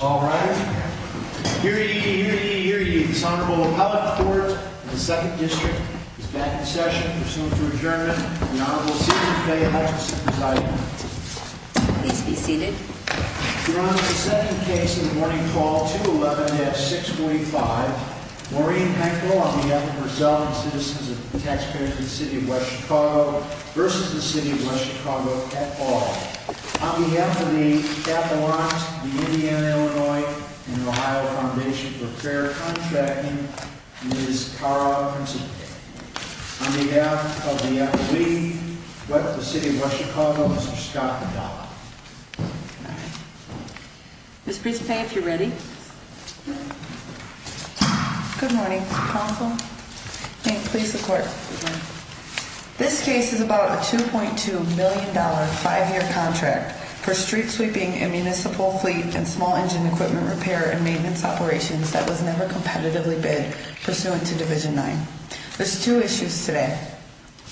All rise. Hear ye, hear ye, hear ye. This Honorable Appellate Court of the Second District is back in session. Pursuant to adjournment, the Honorable Susan Faye Hutchinson presiding. Please be seated. We're on to the second case of the morning call, 211-645. Maureen Henkel, on behalf of herself and the citizens and taxpayers of the City of West Chicago versus the City of West Chicago at all. On behalf of the Chattanooga, Indiana, Illinois, and Ohio Foundation for Fair Contracting, Ms. Cara Principe. On behalf of the FAA, the City of West Chicago, Mr. Scott McDonough. Ms. Principe, if you're ready. Good morning, counsel. May it please the court. This case is about a $2.2 million five-year contract for street sweeping, a municipal fleet, and small engine equipment repair and maintenance operations that was never competitively bid pursuant to Division 9. There's two issues today.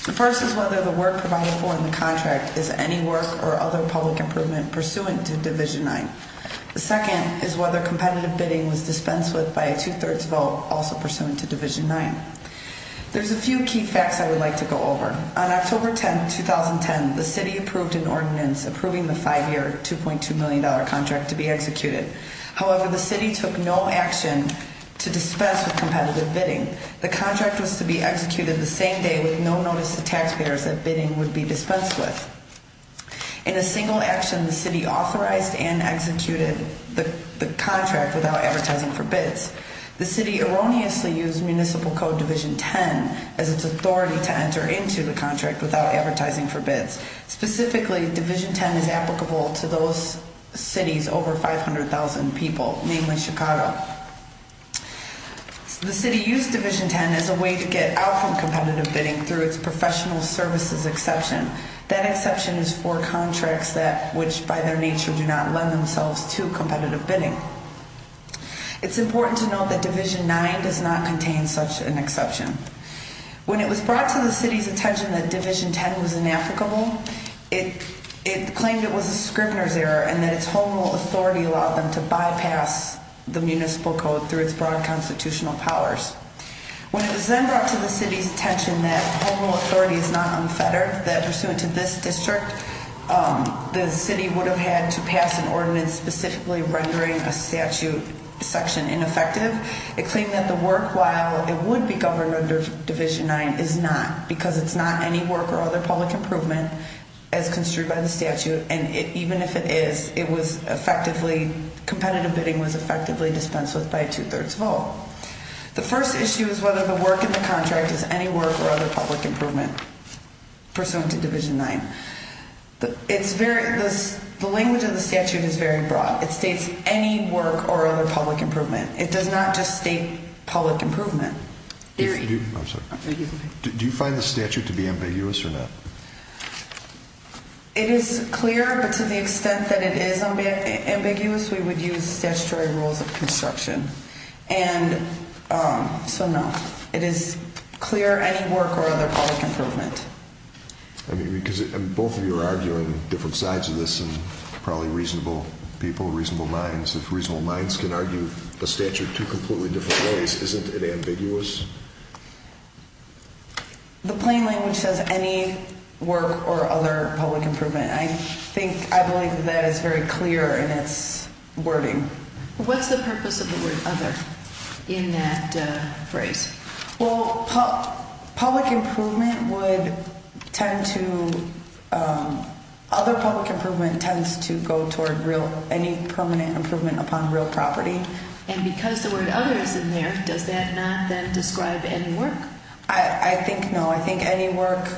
The first is whether the work provided for in the contract is any work or other public improvement pursuant to Division 9. The second is whether competitive bidding was dispensed with by a two-thirds vote also pursuant to Division 9. There's a few key facts I would like to go over. On October 10, 2010, the City approved an ordinance approving the five-year, $2.2 million contract to be executed. However, the City took no action to dispense with competitive bidding. The contract was to be executed the same day with no notice to taxpayers that bidding would be dispensed with. In a single action, the City authorized and executed the contract without advertising for bids. The City erroneously used Municipal Code Division 10 as its authority to enter into the contract without advertising for bids. Specifically, Division 10 is applicable to those cities over 500,000 people, namely Chicago. The City used Division 10 as a way to get out from competitive bidding through its professional services exception. That exception is for contracts which, by their nature, do not lend themselves to competitive bidding. It's important to note that Division 9 does not contain such an exception. When it was brought to the City's attention that Division 10 was inapplicable, it claimed it was a Scribner's error and that its Home Rule authority allowed them to bypass the Municipal Code through its broad constitutional powers. When it was then brought to the City's attention that Home Rule authority is not unfettered, that pursuant to this district, the City would have had to pass an ordinance specifically rendering a statute section ineffective. It claimed that the work, while it would be governed under Division 9, is not, because it's not any work or other public improvement as construed by the statute, and even if it is, competitive bidding was effectively dispensed with by a two-thirds vote. The first issue is whether the work in the contract is any work or other public improvement pursuant to Division 9. The language of the statute is very broad. It states any work or other public improvement. It does not just state public improvement. Do you find the statute to be ambiguous or not? It is clear, but to the extent that it is ambiguous, we would use statutory rules of construction. So, no. It is clear any work or other public improvement. I mean, because both of you are arguing different sides of this, and probably reasonable people, reasonable minds. If reasonable minds can argue a statute two completely different ways, isn't it ambiguous? The plain language says any work or other public improvement. I think, I believe that that is very clear in its wording. What's the purpose of the word other in that phrase? Well, public improvement would tend to, other public improvement tends to go toward real, any permanent improvement upon real property. And because the word other is in there, does that not then describe any work? I think no. I think any work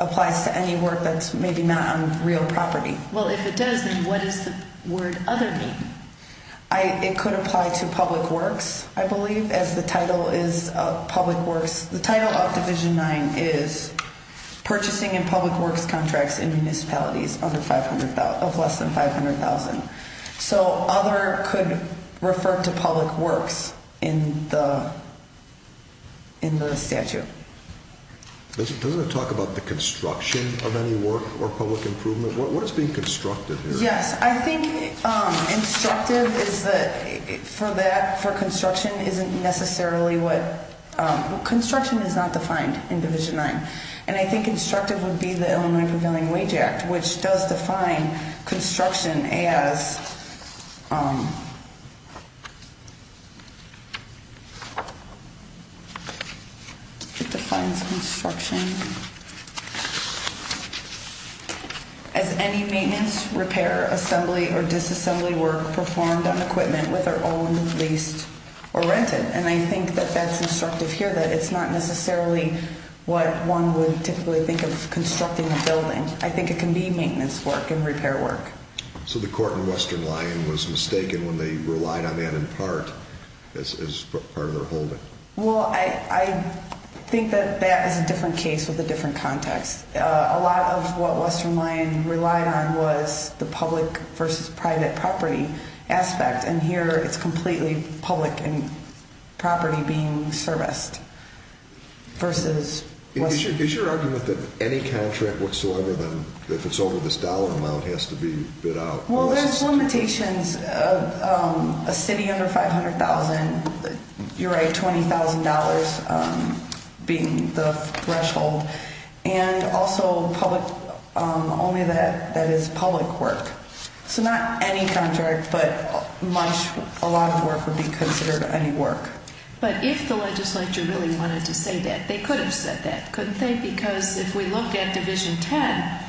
applies to any work that's maybe not on real property. Well, if it does, then what does the word other mean? It could apply to public works, I believe, as the title is of public works. The title of Division 9 is Purchasing in Public Works Contracts in Municipalities of Less than $500,000. So, other could refer to public works in the statute. Doesn't it talk about the construction of any work or public improvement? What is being constructed here? Yes, I think constructive is the, for that, for construction isn't necessarily what, construction is not defined in Division 9. And I think constructive would be the Illinois Profiling Wage Act, which does define construction as, it defines construction as any maintenance, repair, assembly, or disassembly work performed on equipment with our own, leased, or rented. And I think that that's constructive here, that it's not necessarily what one would typically think of constructing a building. I think it can be maintenance work and repair work. So the court in Western Lyon was mistaken when they relied on that in part as part of their holding? Well, I think that that is a different case with a different context. A lot of what Western Lyon relied on was the public versus private property aspect, and here it's completely public and property being serviced versus Western. Is your argument that any contract whatsoever, then, if it's over this dollar amount, has to be bid out? Well, there's limitations of a city under $500,000, you're right, $20,000 being the threshold, and also public, only that that is public work. So not any contract, but much, a lot of work would be considered any work. But if the legislature really wanted to say that, they could have said that, couldn't they? Because if we look at Division 10,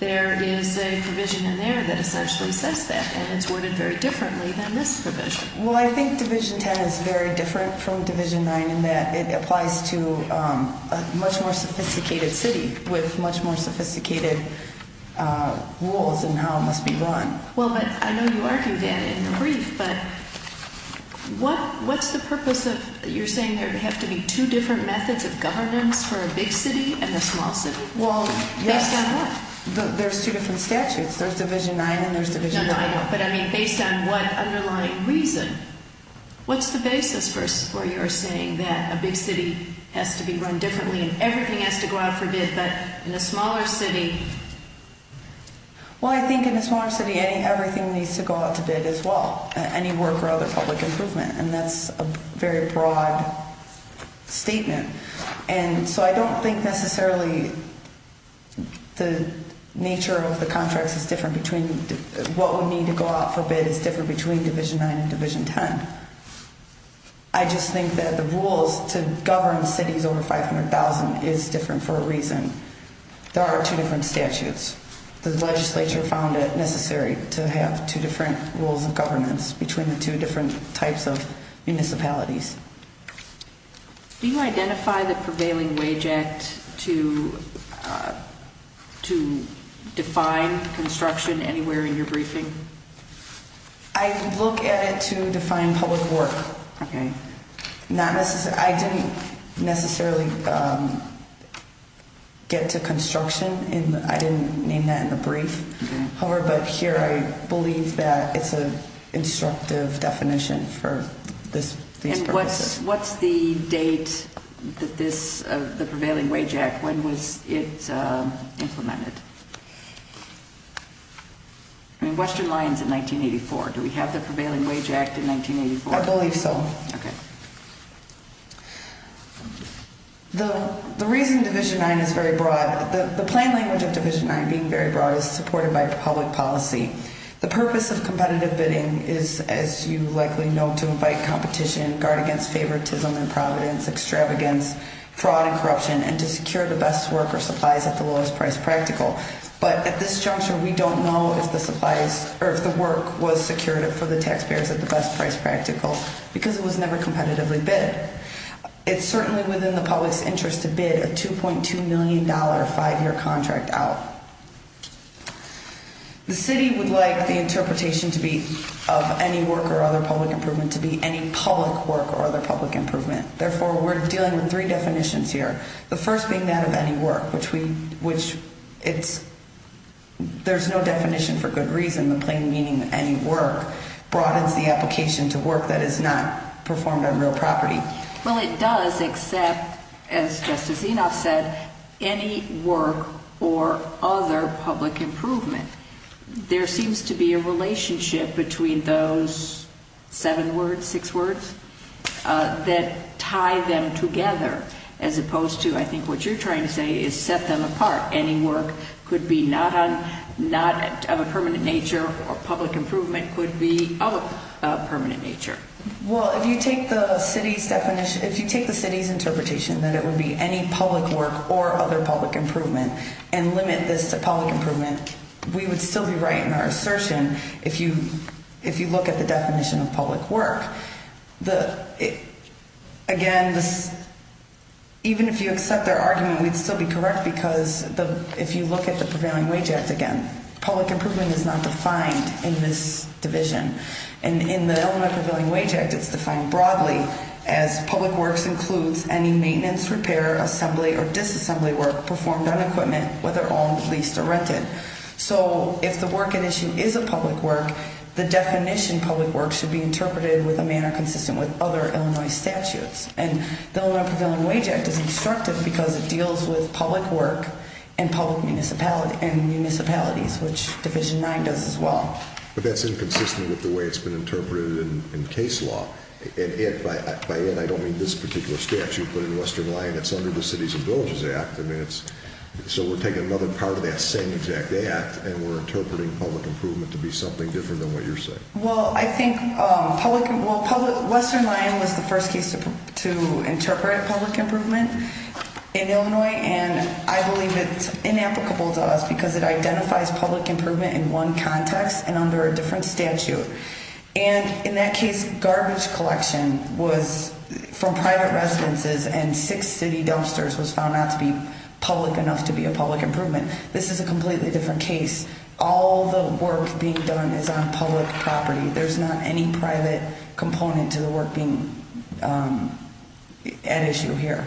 there is a provision in there that essentially says that, and it's worded very differently than this provision. Well, I think Division 10 is very different from Division 9 in that it applies to a much more sophisticated city with much more sophisticated rules in how it must be run. Well, but I know you argued that in the brief, but what's the purpose of, you're saying there have to be two different methods of governance for a big city and a small city? Well, yes. Based on what? There's two different statutes. There's Division 9 and there's Division 10. No, no, I know. But, I mean, based on what underlying reason, what's the basis for your saying that a big city has to be run differently and everything has to go out for bid, but in a smaller city? Well, I think in a smaller city, everything needs to go out to bid as well, any work or other public improvement, and that's a very broad statement. And so I don't think necessarily the nature of the contracts is different between, what would need to go out for bid is different between Division 9 and Division 10. I just think that the rules to govern cities over 500,000 is different for a reason. There are two different statutes. The legislature found it necessary to have two different rules of governance between the two different types of municipalities. Do you identify the prevailing wage act to define construction anywhere in your briefing? I look at it to define public work. Okay. I didn't necessarily get to construction. I didn't name that in the brief. However, but here I believe that it's an instructive definition for these purposes. And what's the date of the prevailing wage act? When was it implemented? I mean, Western Lions in 1984. Do we have the prevailing wage act in 1984? I believe so. Okay. The reason Division 9 is very broad, the plain language of Division 9 being very broad, is supported by public policy. The purpose of competitive bidding is, as you likely know, to invite competition, guard against favoritism and providence, extravagance, fraud and corruption, and to secure the best work or supplies at the lowest price practical. But at this juncture, we don't know if the supplies or if the work was secured for the taxpayers at the best price practical because it was never competitively bid. It's certainly within the public's interest to bid a $2.2 million five-year contract out. The city would like the interpretation to be of any work or other public improvement to be any public work or other public improvement. Therefore, we're dealing with three definitions here, the first being that of any work, which there's no definition for good reason. The plain meaning of any work broadens the application to work that is not performed on real property. Well, it does except, as Justice Enoff said, any work or other public improvement. There seems to be a relationship between those seven words, six words, that tie them together as opposed to, I think what you're trying to say, is set them apart. Any work could be not of a permanent nature or public improvement could be of a permanent nature. Well, if you take the city's interpretation that it would be any public work or other public improvement and limit this to public improvement, we would still be right in our assertion if you look at the definition of public work. Again, even if you accept their argument, we'd still be correct because if you look at the Prevailing Wage Act, again, public improvement is not defined in this division. In the Illinois Prevailing Wage Act, it's defined broadly as public works includes any maintenance, repair, assembly, or disassembly work performed on equipment, whether owned, leased, or rented. So, if the work at issue is a public work, the definition of public work should be interpreted in a manner consistent with other Illinois statutes. And the Illinois Prevailing Wage Act is instructive because it deals with public work and municipalities, which Division 9 does as well. But that's inconsistent with the way it's been interpreted in case law. And by that, I don't mean this particular statute, but in Western line, it's under the Cities and Villages Act. So we're taking another part of that same exact act and we're interpreting public improvement to be something different than what you're saying. Well, I think Western line was the first case to interpret public improvement in Illinois, and I believe it's inapplicable to us because it identifies public improvement in one context and under a different statute. And in that case, garbage collection was from private residences and six city dumpsters was found not to be public enough to be a public improvement. This is a completely different case. All the work being done is on public property. There's not any private component to the work being at issue here.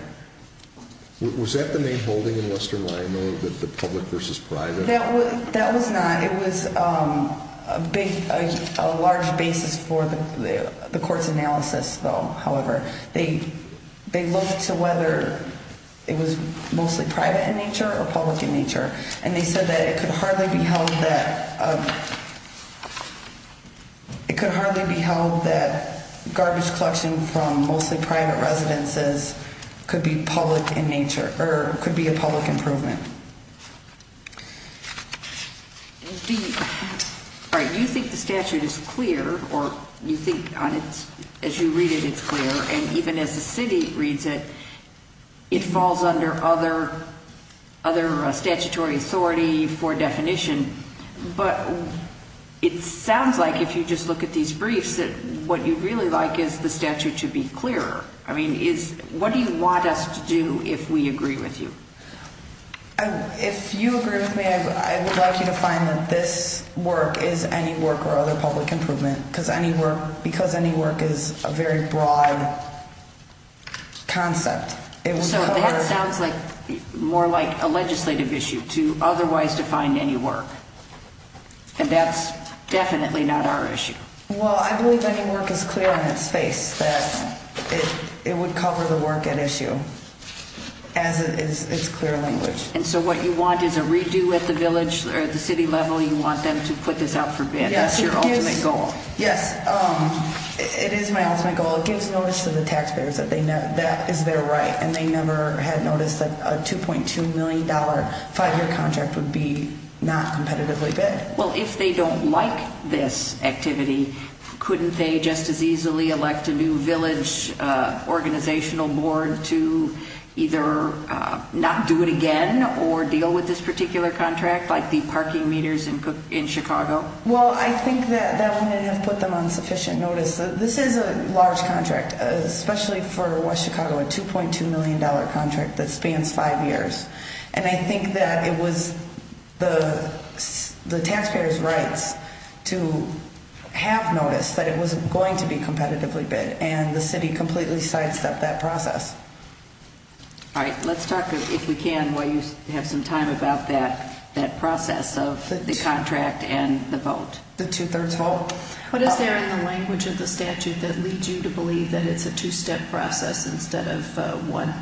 Was that the main holding in Western line, though, the public versus private? That was not. It was a large basis for the court's analysis, though, however. They looked to whether it was mostly private in nature or public in nature, and they said that it could hardly be held that garbage collection from mostly private residences could be public in nature or could be a public improvement. All right. You think the statute is clear, or you think as you read it, it's clear, and even as the city reads it, it falls under other statutory authority for definition, but it sounds like if you just look at these briefs that what you'd really like is the statute to be clearer. I mean, what do you want us to do if we agree with you? If you agree with me, I would like you to find that this work is any work or other public improvement because any work is a very broad concept. So that sounds more like a legislative issue to otherwise define any work, and that's definitely not our issue. Well, I believe any work is clear on its face that it would cover the work at issue as it's clear language. And so what you want is a redo at the village or the city level? You want them to put this out for bid. That's your ultimate goal. Yes, it is my ultimate goal. It gives notice to the taxpayers that that is their right, and they never had noticed that a $2.2 million five-year contract would be not competitively bid. Well, if they don't like this activity, couldn't they just as easily elect a new village organizational board to either not do it again or deal with this particular contract like the parking meters in Chicago? Well, I think that that wouldn't have put them on sufficient notice. This is a large contract, especially for West Chicago, a $2.2 million contract that spans five years. And I think that it was the taxpayer's rights to have noticed that it was going to be competitively bid, and the city completely sidestepped that process. All right, let's talk, if we can, while you have some time, about that process of the contract and the vote. The two-thirds vote? What is there in the language of the statute that leads you to believe that it's a two-step process instead of one?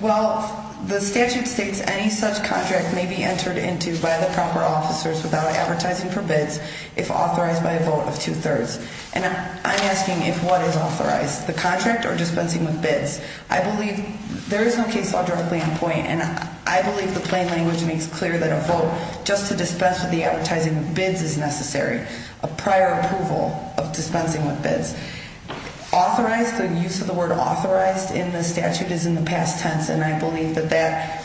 Well, the statute states any such contract may be entered into by the proper officers without advertising for bids if authorized by a vote of two-thirds. And I'm asking if what is authorized, the contract or dispensing with bids? I believe there is no case law directly in point, and I believe the plain language makes clear that a vote just to dispense with the advertising of bids is necessary, a prior approval of dispensing with bids. Authorized, the use of the word authorized in the statute is in the past tense, and I believe that that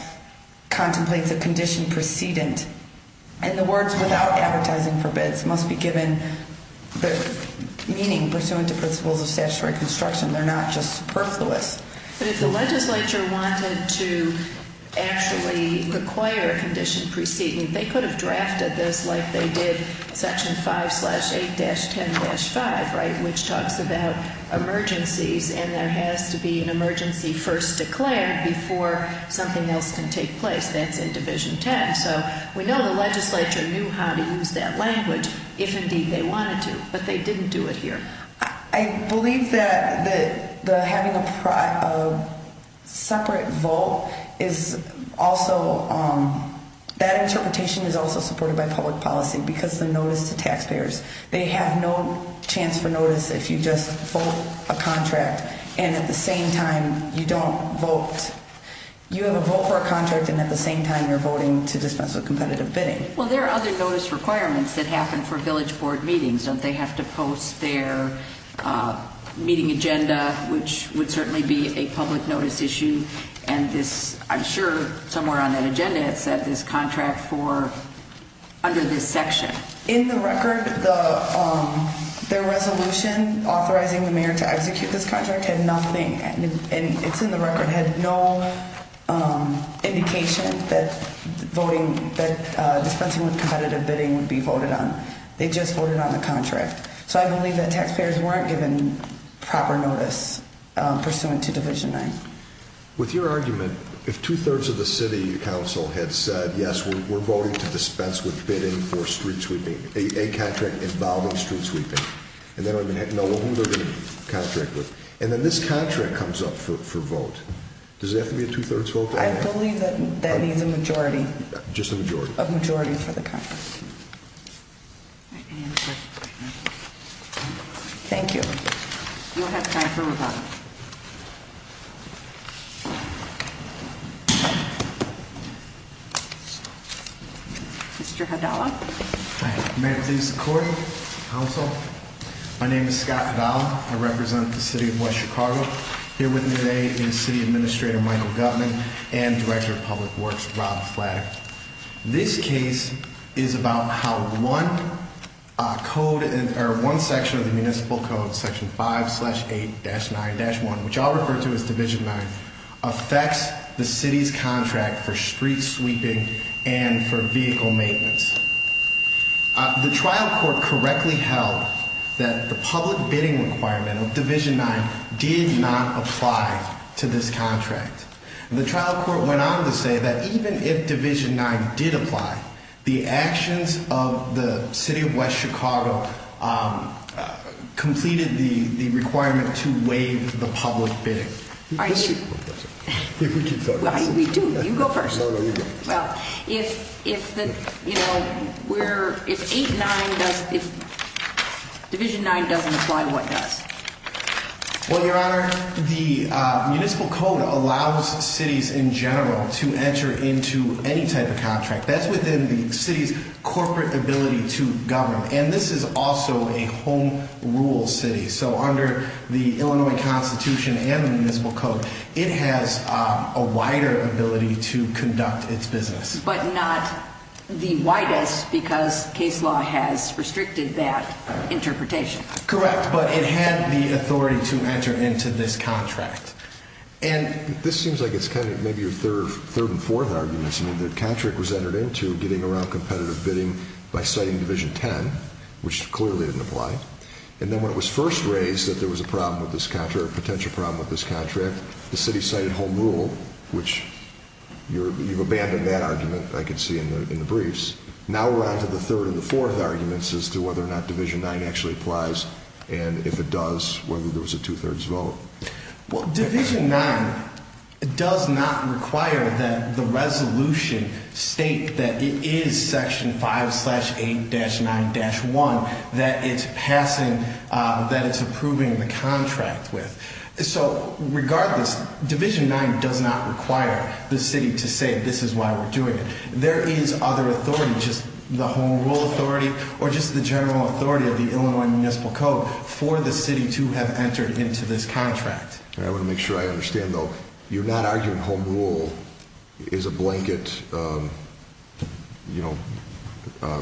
contemplates a condition precedent. And the words without advertising for bids must be given the meaning pursuant to principles of statutory construction. They're not just superfluous. But if the legislature wanted to actually require a condition precedent, they could have drafted this like they did Section 5-8-10-5, right, which talks about emergencies, and there has to be an emergency first declared before something else can take place. That's in Division 10. So we know the legislature knew how to use that language if, indeed, they wanted to, but they didn't do it here. I believe that having a separate vote is also – that interpretation is also supported by public policy because of the notice to taxpayers. They have no chance for notice if you just vote a contract and at the same time you don't vote. You have a vote for a contract and at the same time you're voting to dispense with competitive bidding. Well, there are other notice requirements that happen for village board meetings. Don't they have to post their meeting agenda, which would certainly be a public notice issue? And this – I'm sure somewhere on that agenda it said this contract for under this section. In the record, their resolution authorizing the mayor to execute this contract had nothing – and it's in the record – had no indication that voting – that dispensing with competitive bidding would be voted on. They just voted on the contract. So I believe that taxpayers weren't given proper notice pursuant to Division 9. With your argument, if two-thirds of the city council had said, yes, we're voting to dispense with bidding for street sweeping – a contract involving street sweeping, and they don't even know who they're going to contract with, and then this contract comes up for vote, does it have to be a two-thirds vote? I believe that needs a majority. Just a majority? A majority for the contract. Thank you. You'll have time for rebuttal. Mr. Hidalgo. Hi. May it please the Court, Council. My name is Scott Hidalgo. I represent the City of West Chicago. Here with me today is City Administrator Michael Gutmann and Director of Public Works Rob Flatter. This case is about how one section of the Municipal Code, Section 5-8-9-1, which I'll refer to as Division 9, affects the City's contract for street sweeping and for vehicle maintenance. The trial court correctly held that the public bidding requirement of Division 9 did not apply to this contract. The trial court went on to say that even if Division 9 did apply, the actions of the City of West Chicago completed the requirement to waive the public bidding. All right. I think we should focus. We do. You go first. No, no, you go. Well, if 8-9 does – if Division 9 doesn't apply, what does? Well, Your Honor, the Municipal Code allows cities in general to enter into any type of contract. That's within the city's corporate ability to govern. And this is also a home rule city. So under the Illinois Constitution and the Municipal Code, it has a wider ability to conduct its business. But not the widest because case law has restricted that interpretation. Correct, but it had the authority to enter into this contract. And this seems like it's kind of maybe your third and fourth arguments. I mean, the contract was entered into getting around competitive bidding by citing Division 10, which clearly didn't apply. And then when it was first raised that there was a problem with this contract, a potential problem with this contract, the city cited home rule, which you've abandoned that argument, I can see, in the briefs. Now we're on to the third and the fourth arguments as to whether or not Division 9 actually applies, and if it does, whether there was a two-thirds vote. Well, Division 9 does not require that the resolution state that it is Section 5-8-9-1 that it's passing – that it's approving the contract with. So regardless, Division 9 does not require the city to say this is why we're doing it. There is other authority, just the home rule authority or just the general authority of the Illinois Municipal Code for the city to have entered into this contract. I want to make sure I understand, though. You're not arguing home rule is a blanket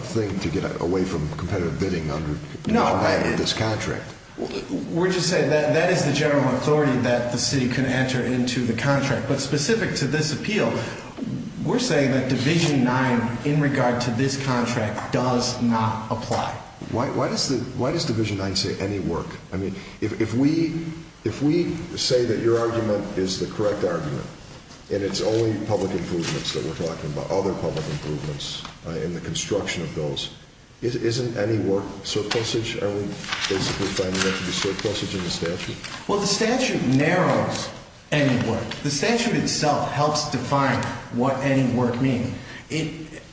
thing to get away from competitive bidding under this contract. We're just saying that that is the general authority that the city can enter into the contract. But specific to this appeal, we're saying that Division 9 in regard to this contract does not apply. Why does Division 9 say any work? I mean, if we say that your argument is the correct argument and it's only public improvements that we're talking about, other public improvements in the construction of those, isn't any work surplusage? Are we basically finding there to be surplusage in the statute? Well, the statute narrows any work. The statute itself helps define what any work means.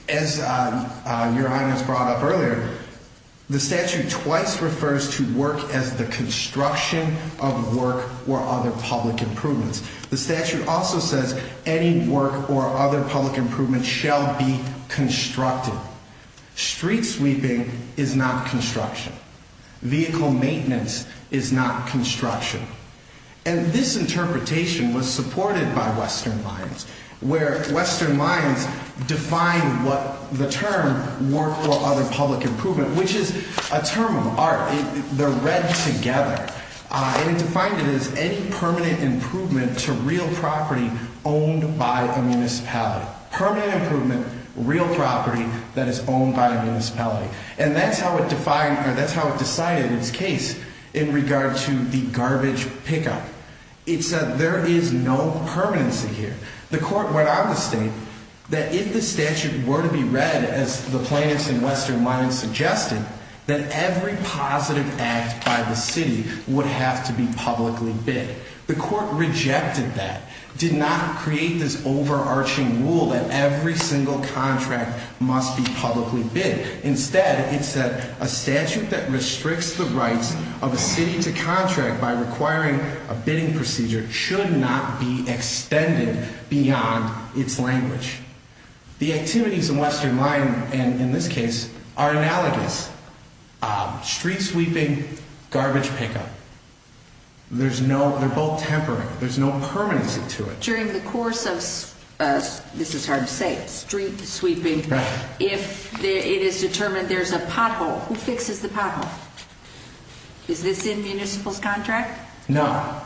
As Your Honor has brought up earlier, the statute twice refers to work as the construction of work or other public improvements. The statute also says any work or other public improvements shall be constructed. Street sweeping is not construction. Vehicle maintenance is not construction. And this interpretation was supported by Western Lines, where Western Lines defined what the term work or other public improvement, which is a term of art. They're read together. And it defined it as any permanent improvement to real property owned by a municipality. Permanent improvement, real property that is owned by a municipality. And that's how it defined or that's how it decided its case in regard to the garbage pickup. It said there is no permanency here. The court went on to state that if the statute were to be read as the plaintiffs in Western Lines suggested, that every positive act by the city would have to be publicly bid. The court rejected that, did not create this overarching rule that every single contract must be publicly bid. Instead, it said a statute that restricts the rights of a city to contract by requiring a bidding procedure should not be extended beyond its language. The activities in Western Lines, and in this case, are analogous. Street sweeping, garbage pickup. There's no, they're both tempering. There's no permanency to it. During the course of, this is hard to say, street sweeping, if it is determined there's a pothole, who fixes the pothole? Is this in municipal's contract? No.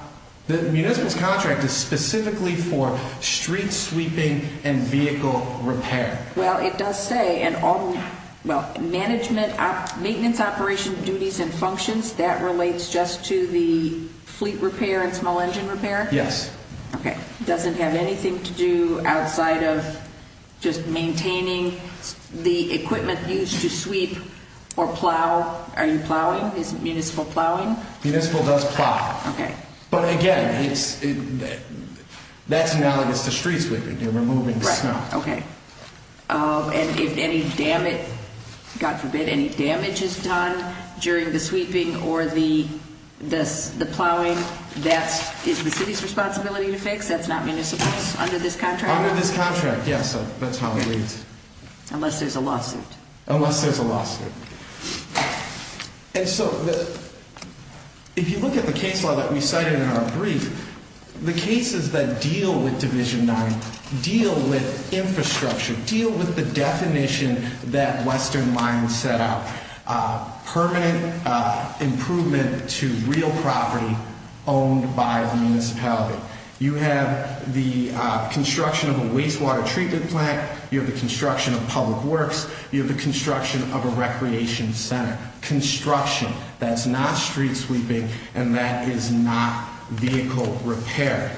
The municipal's contract is specifically for street sweeping and vehicle repair. Well, it does say, well, maintenance operation duties and functions, that relates just to the fleet repair and small engine repair? Yes. Okay. Doesn't have anything to do outside of just maintaining the equipment used to sweep or plow. Are you plowing? Is municipal plowing? Municipal does plow. Okay. But again, that's analogous to street sweeping. You're removing the snow. Right. Okay. And if any damage, God forbid, any damage is done during the sweeping or the plowing, that's the city's responsibility to fix? That's not municipal's? Under this contract? Under this contract, yes. That's how it reads. Unless there's a lawsuit. And so if you look at the case law that we cited in our brief, the cases that deal with Division 9 deal with infrastructure, deal with the definition that Western Mind set out. Permanent improvement to real property owned by the municipality. You have the construction of a wastewater treatment plant. You have the construction of public works. You have the construction of a recreation center. Construction. That's not street sweeping and that is not vehicle repair.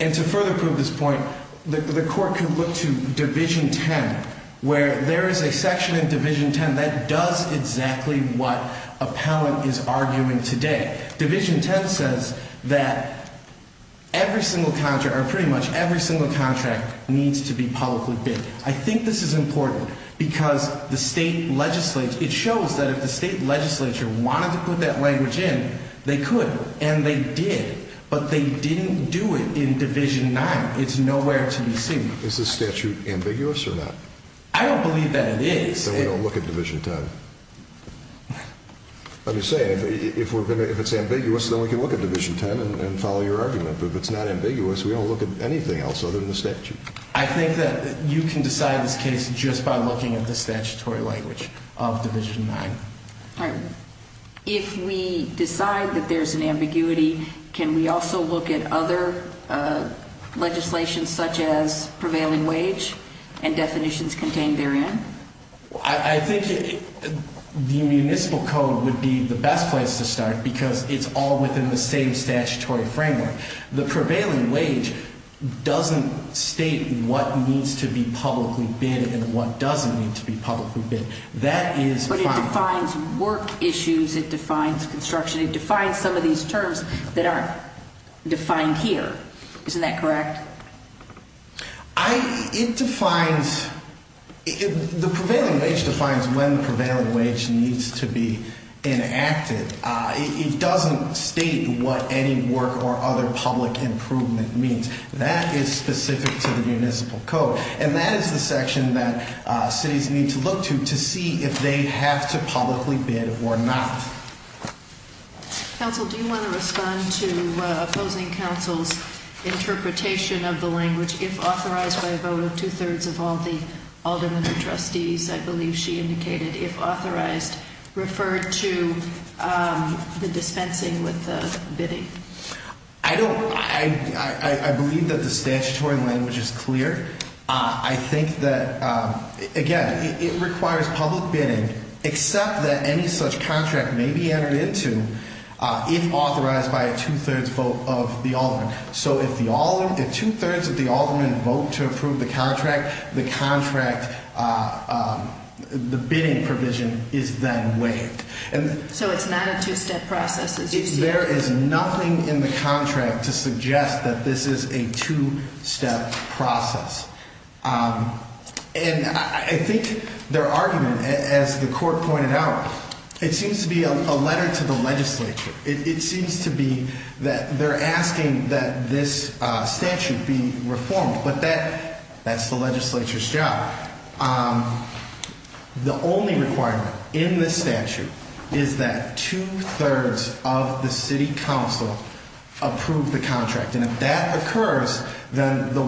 And to further prove this point, the court can look to Division 10 where there is a section in Division 10 that does exactly what appellant is arguing today. Division 10 says that pretty much every single contract needs to be publicly bid. I think this is important because it shows that if the state legislature wanted to put that language in, they could and they did. But they didn't do it in Division 9. It's nowhere to be seen. Is this statute ambiguous or not? I don't believe that it is. Then we don't look at Division 10. Let me say, if it's ambiguous, then we can look at Division 10 and follow your argument. But if it's not ambiguous, we don't look at anything else other than the statute. I think that you can decide this case just by looking at the statutory language of Division 9. All right. If we decide that there's an ambiguity, can we also look at other legislation such as prevailing wage and definitions contained therein? I think the municipal code would be the best place to start because it's all within the same statutory framework. The prevailing wage doesn't state what needs to be publicly bid and what doesn't need to be publicly bid. That is fine. But it defines work issues. It defines construction. It defines some of these terms that aren't defined here. Isn't that correct? The prevailing wage defines when the prevailing wage needs to be enacted. It doesn't state what any work or other public improvement means. That is specific to the municipal code. And that is the section that cities need to look to to see if they have to publicly bid or not. Counsel, do you want to respond to opposing counsel's interpretation of the language, if authorized by a vote of two-thirds of all the aldermen and trustees, I believe she indicated, if authorized referred to the dispensing with the bidding? I don't. I believe that the statutory language is clear. I think that, again, it requires public bidding, except that any such contract may be entered into if authorized by a two-thirds vote of the aldermen. So if two-thirds of the aldermen vote to approve the contract, the bidding provision is then waived. So it's not a two-step process. There is nothing in the contract to suggest that this is a two-step process. And I think their argument, as the court pointed out, it seems to be a letter to the legislature. It seems to be that they're asking that this statute be reformed, but that's the legislature's job. The only requirement in this statute is that two-thirds of the city council approve the contract. And if that occurs, then the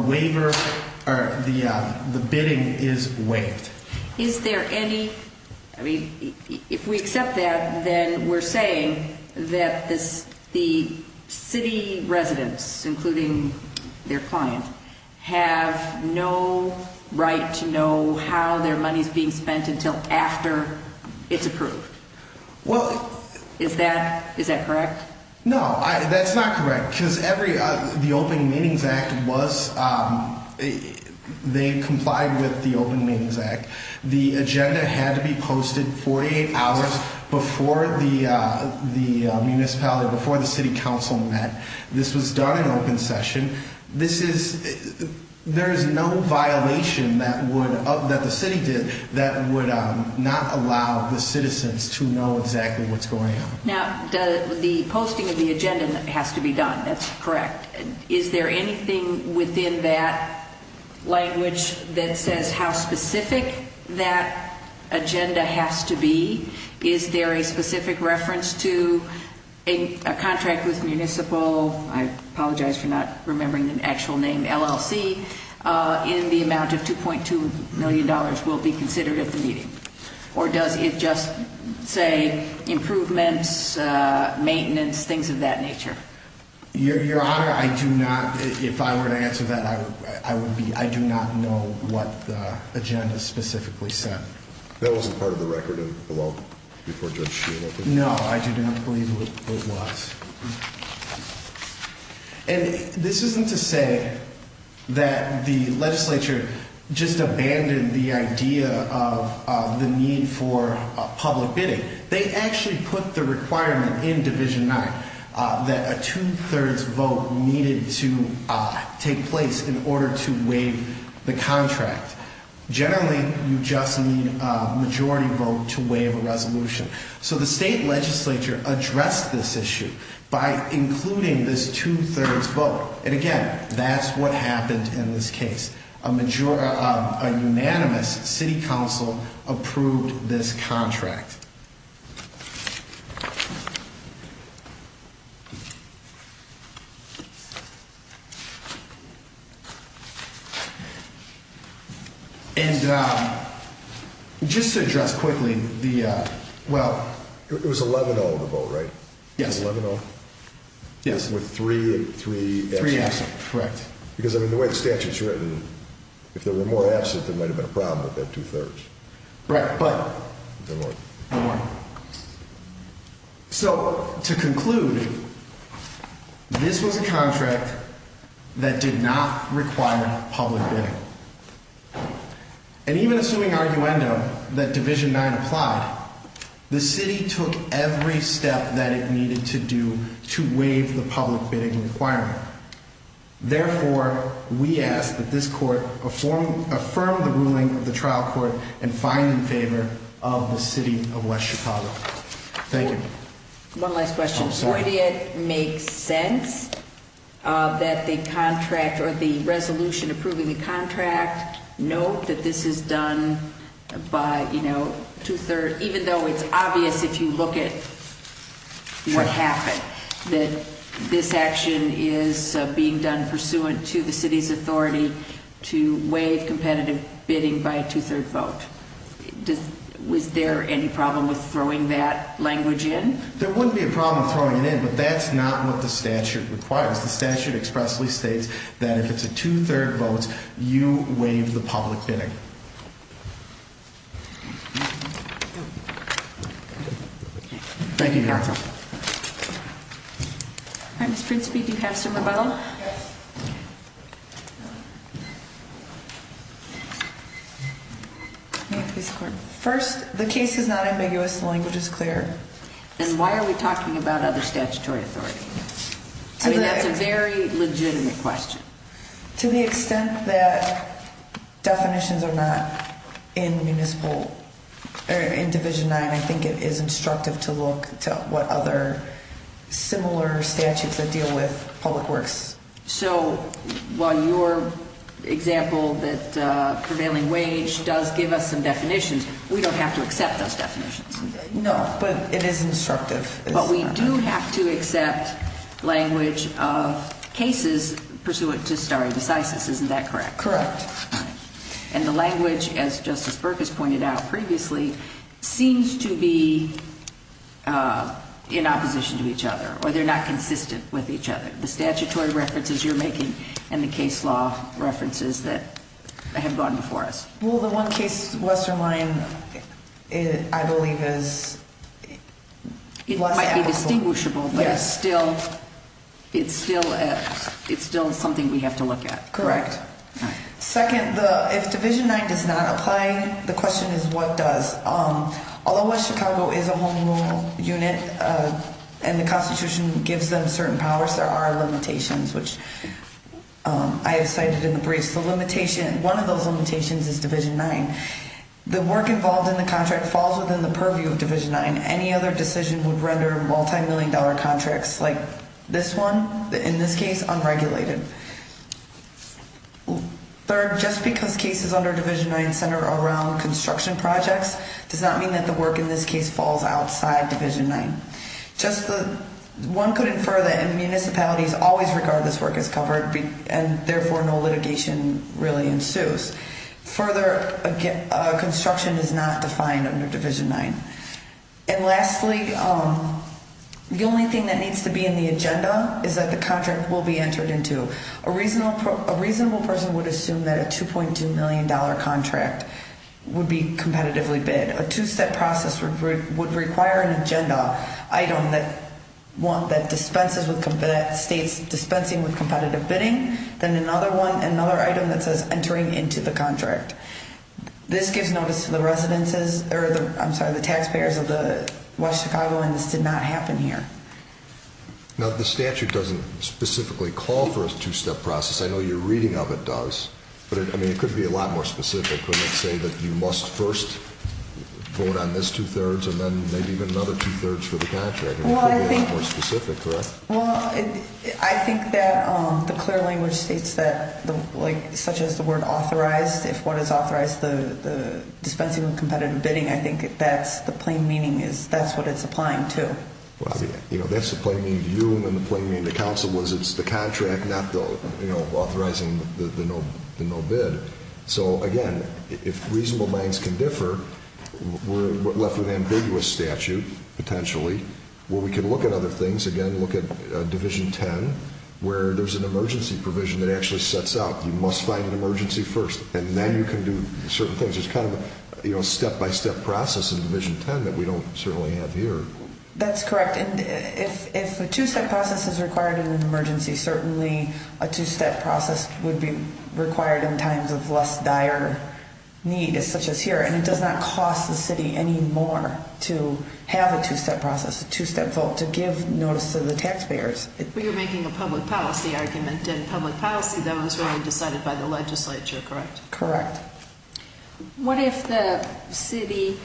bidding is waived. Is there any, I mean, if we accept that, then we're saying that the city residents, including their client, have no right to know how their money is being spent until after it's approved. Is that correct? No, that's not correct, because the Open Meetings Act was, they complied with the Open Meetings Act. The agenda had to be posted 48 hours before the municipality, before the city council met. This was done in open session. This is, there is no violation that would, that the city did, that would not allow the citizens to know exactly what's going on. Now, the posting of the agenda has to be done, that's correct. Is there anything within that language that says how specific that agenda has to be? Is there a specific reference to a contract with municipal, I apologize for not remembering the actual name, LLC, in the amount of $2.2 million will be considered at the meeting? Or does it just say improvements, maintenance, things of that nature? Your Honor, I do not, if I were to answer that, I would be, I do not know what the agenda specifically said. That wasn't part of the record of the law before Judge Sheehan opened it? No, I do not believe it was. And this isn't to say that the legislature just abandoned the idea of the need for public bidding. They actually put the requirement in Division 9 that a two-thirds vote needed to take place in order to waive the contract. Generally, you just need a majority vote to waive a resolution. So the state legislature addressed this issue by including this two-thirds vote. And again, that's what happened in this case. A unanimous city council approved this contract. And just to address quickly, the, well... It was 11-0, the vote, right? Yes. 11-0? Yes. With three abstentions? Three abstentions, correct. Because, I mean, the way the statute's written, if there were more abstentions, there might have been a problem with that two-thirds. Right, but... No more. No more. So, to conclude, this was a contract that did not require public bidding. And even assuming arguendo that Division 9 applied, the city took every step that it needed to do to waive the public bidding requirement. Therefore, we ask that this court affirm the ruling of the trial court and find in favor of the city of West Chicago. Thank you. One last question. Oh, sorry. Would it make sense that the contract or the resolution approving the contract note that this is done by, you know, two-thirds? Even though it's obvious if you look at what happened, that this action is being done pursuant to the city's authority to waive competitive bidding by a two-third vote. Was there any problem with throwing that language in? There wouldn't be a problem throwing it in, but that's not what the statute requires. The statute expressly states that if it's a two-third vote, you waive the public bidding. Thank you. Thank you, counsel. All right, Ms. Princeby, do you have some rebuttal? Yes. First, the case is not ambiguous. The language is clear. And why are we talking about other statutory authority? I mean, that's a very legitimate question. To the extent that definitions are not in municipal or in Division IX, I think it is instructive to look to what other similar statutes that deal with public works. So while your example that prevailing wage does give us some definitions, we don't have to accept those definitions? No, but it is instructive. But we do have to accept language of cases pursuant to stare decisis. Isn't that correct? Correct. And the language, as Justice Berk has pointed out previously, seems to be in opposition to each other, or they're not consistent with each other. The statutory references you're making and the case law references that have gone before us. Well, the one case, Western Line, I believe is less applicable. It might be distinguishable, but it's still something we have to look at. Correct. Second, if Division IX does not apply, the question is what does? Although West Chicago is a home rule unit and the Constitution gives them certain powers, there are limitations, which I have cited in the briefs. One of those limitations is Division IX. The work involved in the contract falls within the purview of Division IX. Any other decision would render multimillion dollar contracts like this one, in this case, unregulated. Third, just because cases under Division IX center around construction projects does not mean that the work in this case falls outside Division IX. One could infer that municipalities always regard this work as covered and therefore no litigation really ensues. Further, construction is not defined under Division IX. And lastly, the only thing that needs to be in the agenda is that the contract will be entered into. A reasonable person would assume that a $2.2 million contract would be competitively bid. A two-step process would require an agenda item that states dispensing with competitive bidding, then another item that says entering into the contract. This gives notice to the taxpayers of West Chicago, and this did not happen here. Now, the statute doesn't specifically call for a two-step process. I know your reading of it does. But, I mean, it could be a lot more specific. Couldn't it say that you must first vote on this two-thirds and then maybe even another two-thirds for the contract? It could be a lot more specific, correct? Well, I think that the clear language states that, like, such as the word authorized, if one has authorized the dispensing of competitive bidding, I think that's the plain meaning is that's what it's applying to. You know, that's the plain meaning to you and the plain meaning to counsel is it's the contract, not the, you know, authorizing the no bid. So, again, if reasonable minds can differ, we're left with an ambiguous statute, potentially, where we can look at other things. Again, look at Division 10, where there's an emergency provision that actually sets out you must find an emergency first, and then you can do certain things. It's kind of a step-by-step process in Division 10 that we don't certainly have here. That's correct. And if a two-step process is required in an emergency, certainly a two-step process would be required in times of less dire need, such as here. And it does not cost the city any more to have a two-step process, a two-step vote to give notice to the taxpayers. But you're making a public policy argument, and public policy, that was really decided by the legislature, correct? Correct. What if the city,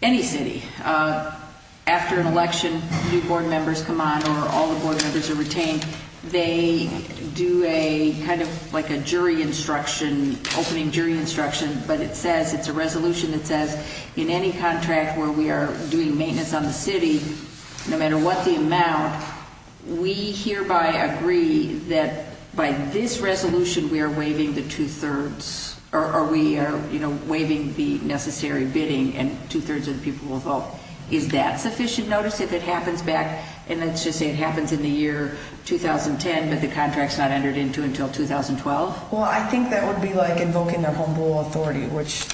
any city, after an election, new board members come on or all the board members are retained, they do a kind of like a jury instruction, opening jury instruction, but it says, it's a resolution that says, in any contract where we are doing maintenance on the city, no matter what the amount, we hereby agree that by this resolution we are waiving the two-thirds, or we are waiving the necessary bidding, and two-thirds of the people will vote. Is that sufficient notice if it happens back, and let's just say it happens in the year 2010, but the contract's not entered into until 2012? Well, I think that would be like invoking their humble authority, which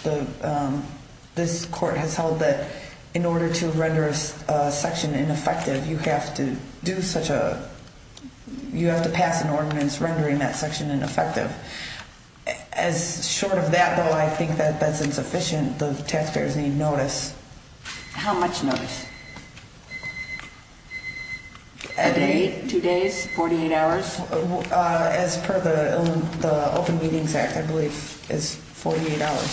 this court has held that in order to render a section ineffective, you have to do such a, you have to pass an ordinance rendering that section ineffective. As short of that, though, I think that that's insufficient. The taxpayers need notice. How much notice? A day, two days, 48 hours? As per the Open Meetings Act, I believe it's 48 hours.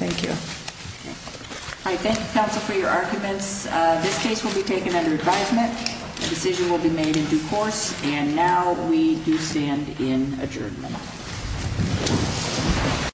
Thank you. All right, thank you, counsel, for your arguments. This case will be taken under advisement. A decision will be made in due course, and now we do stand in adjournment.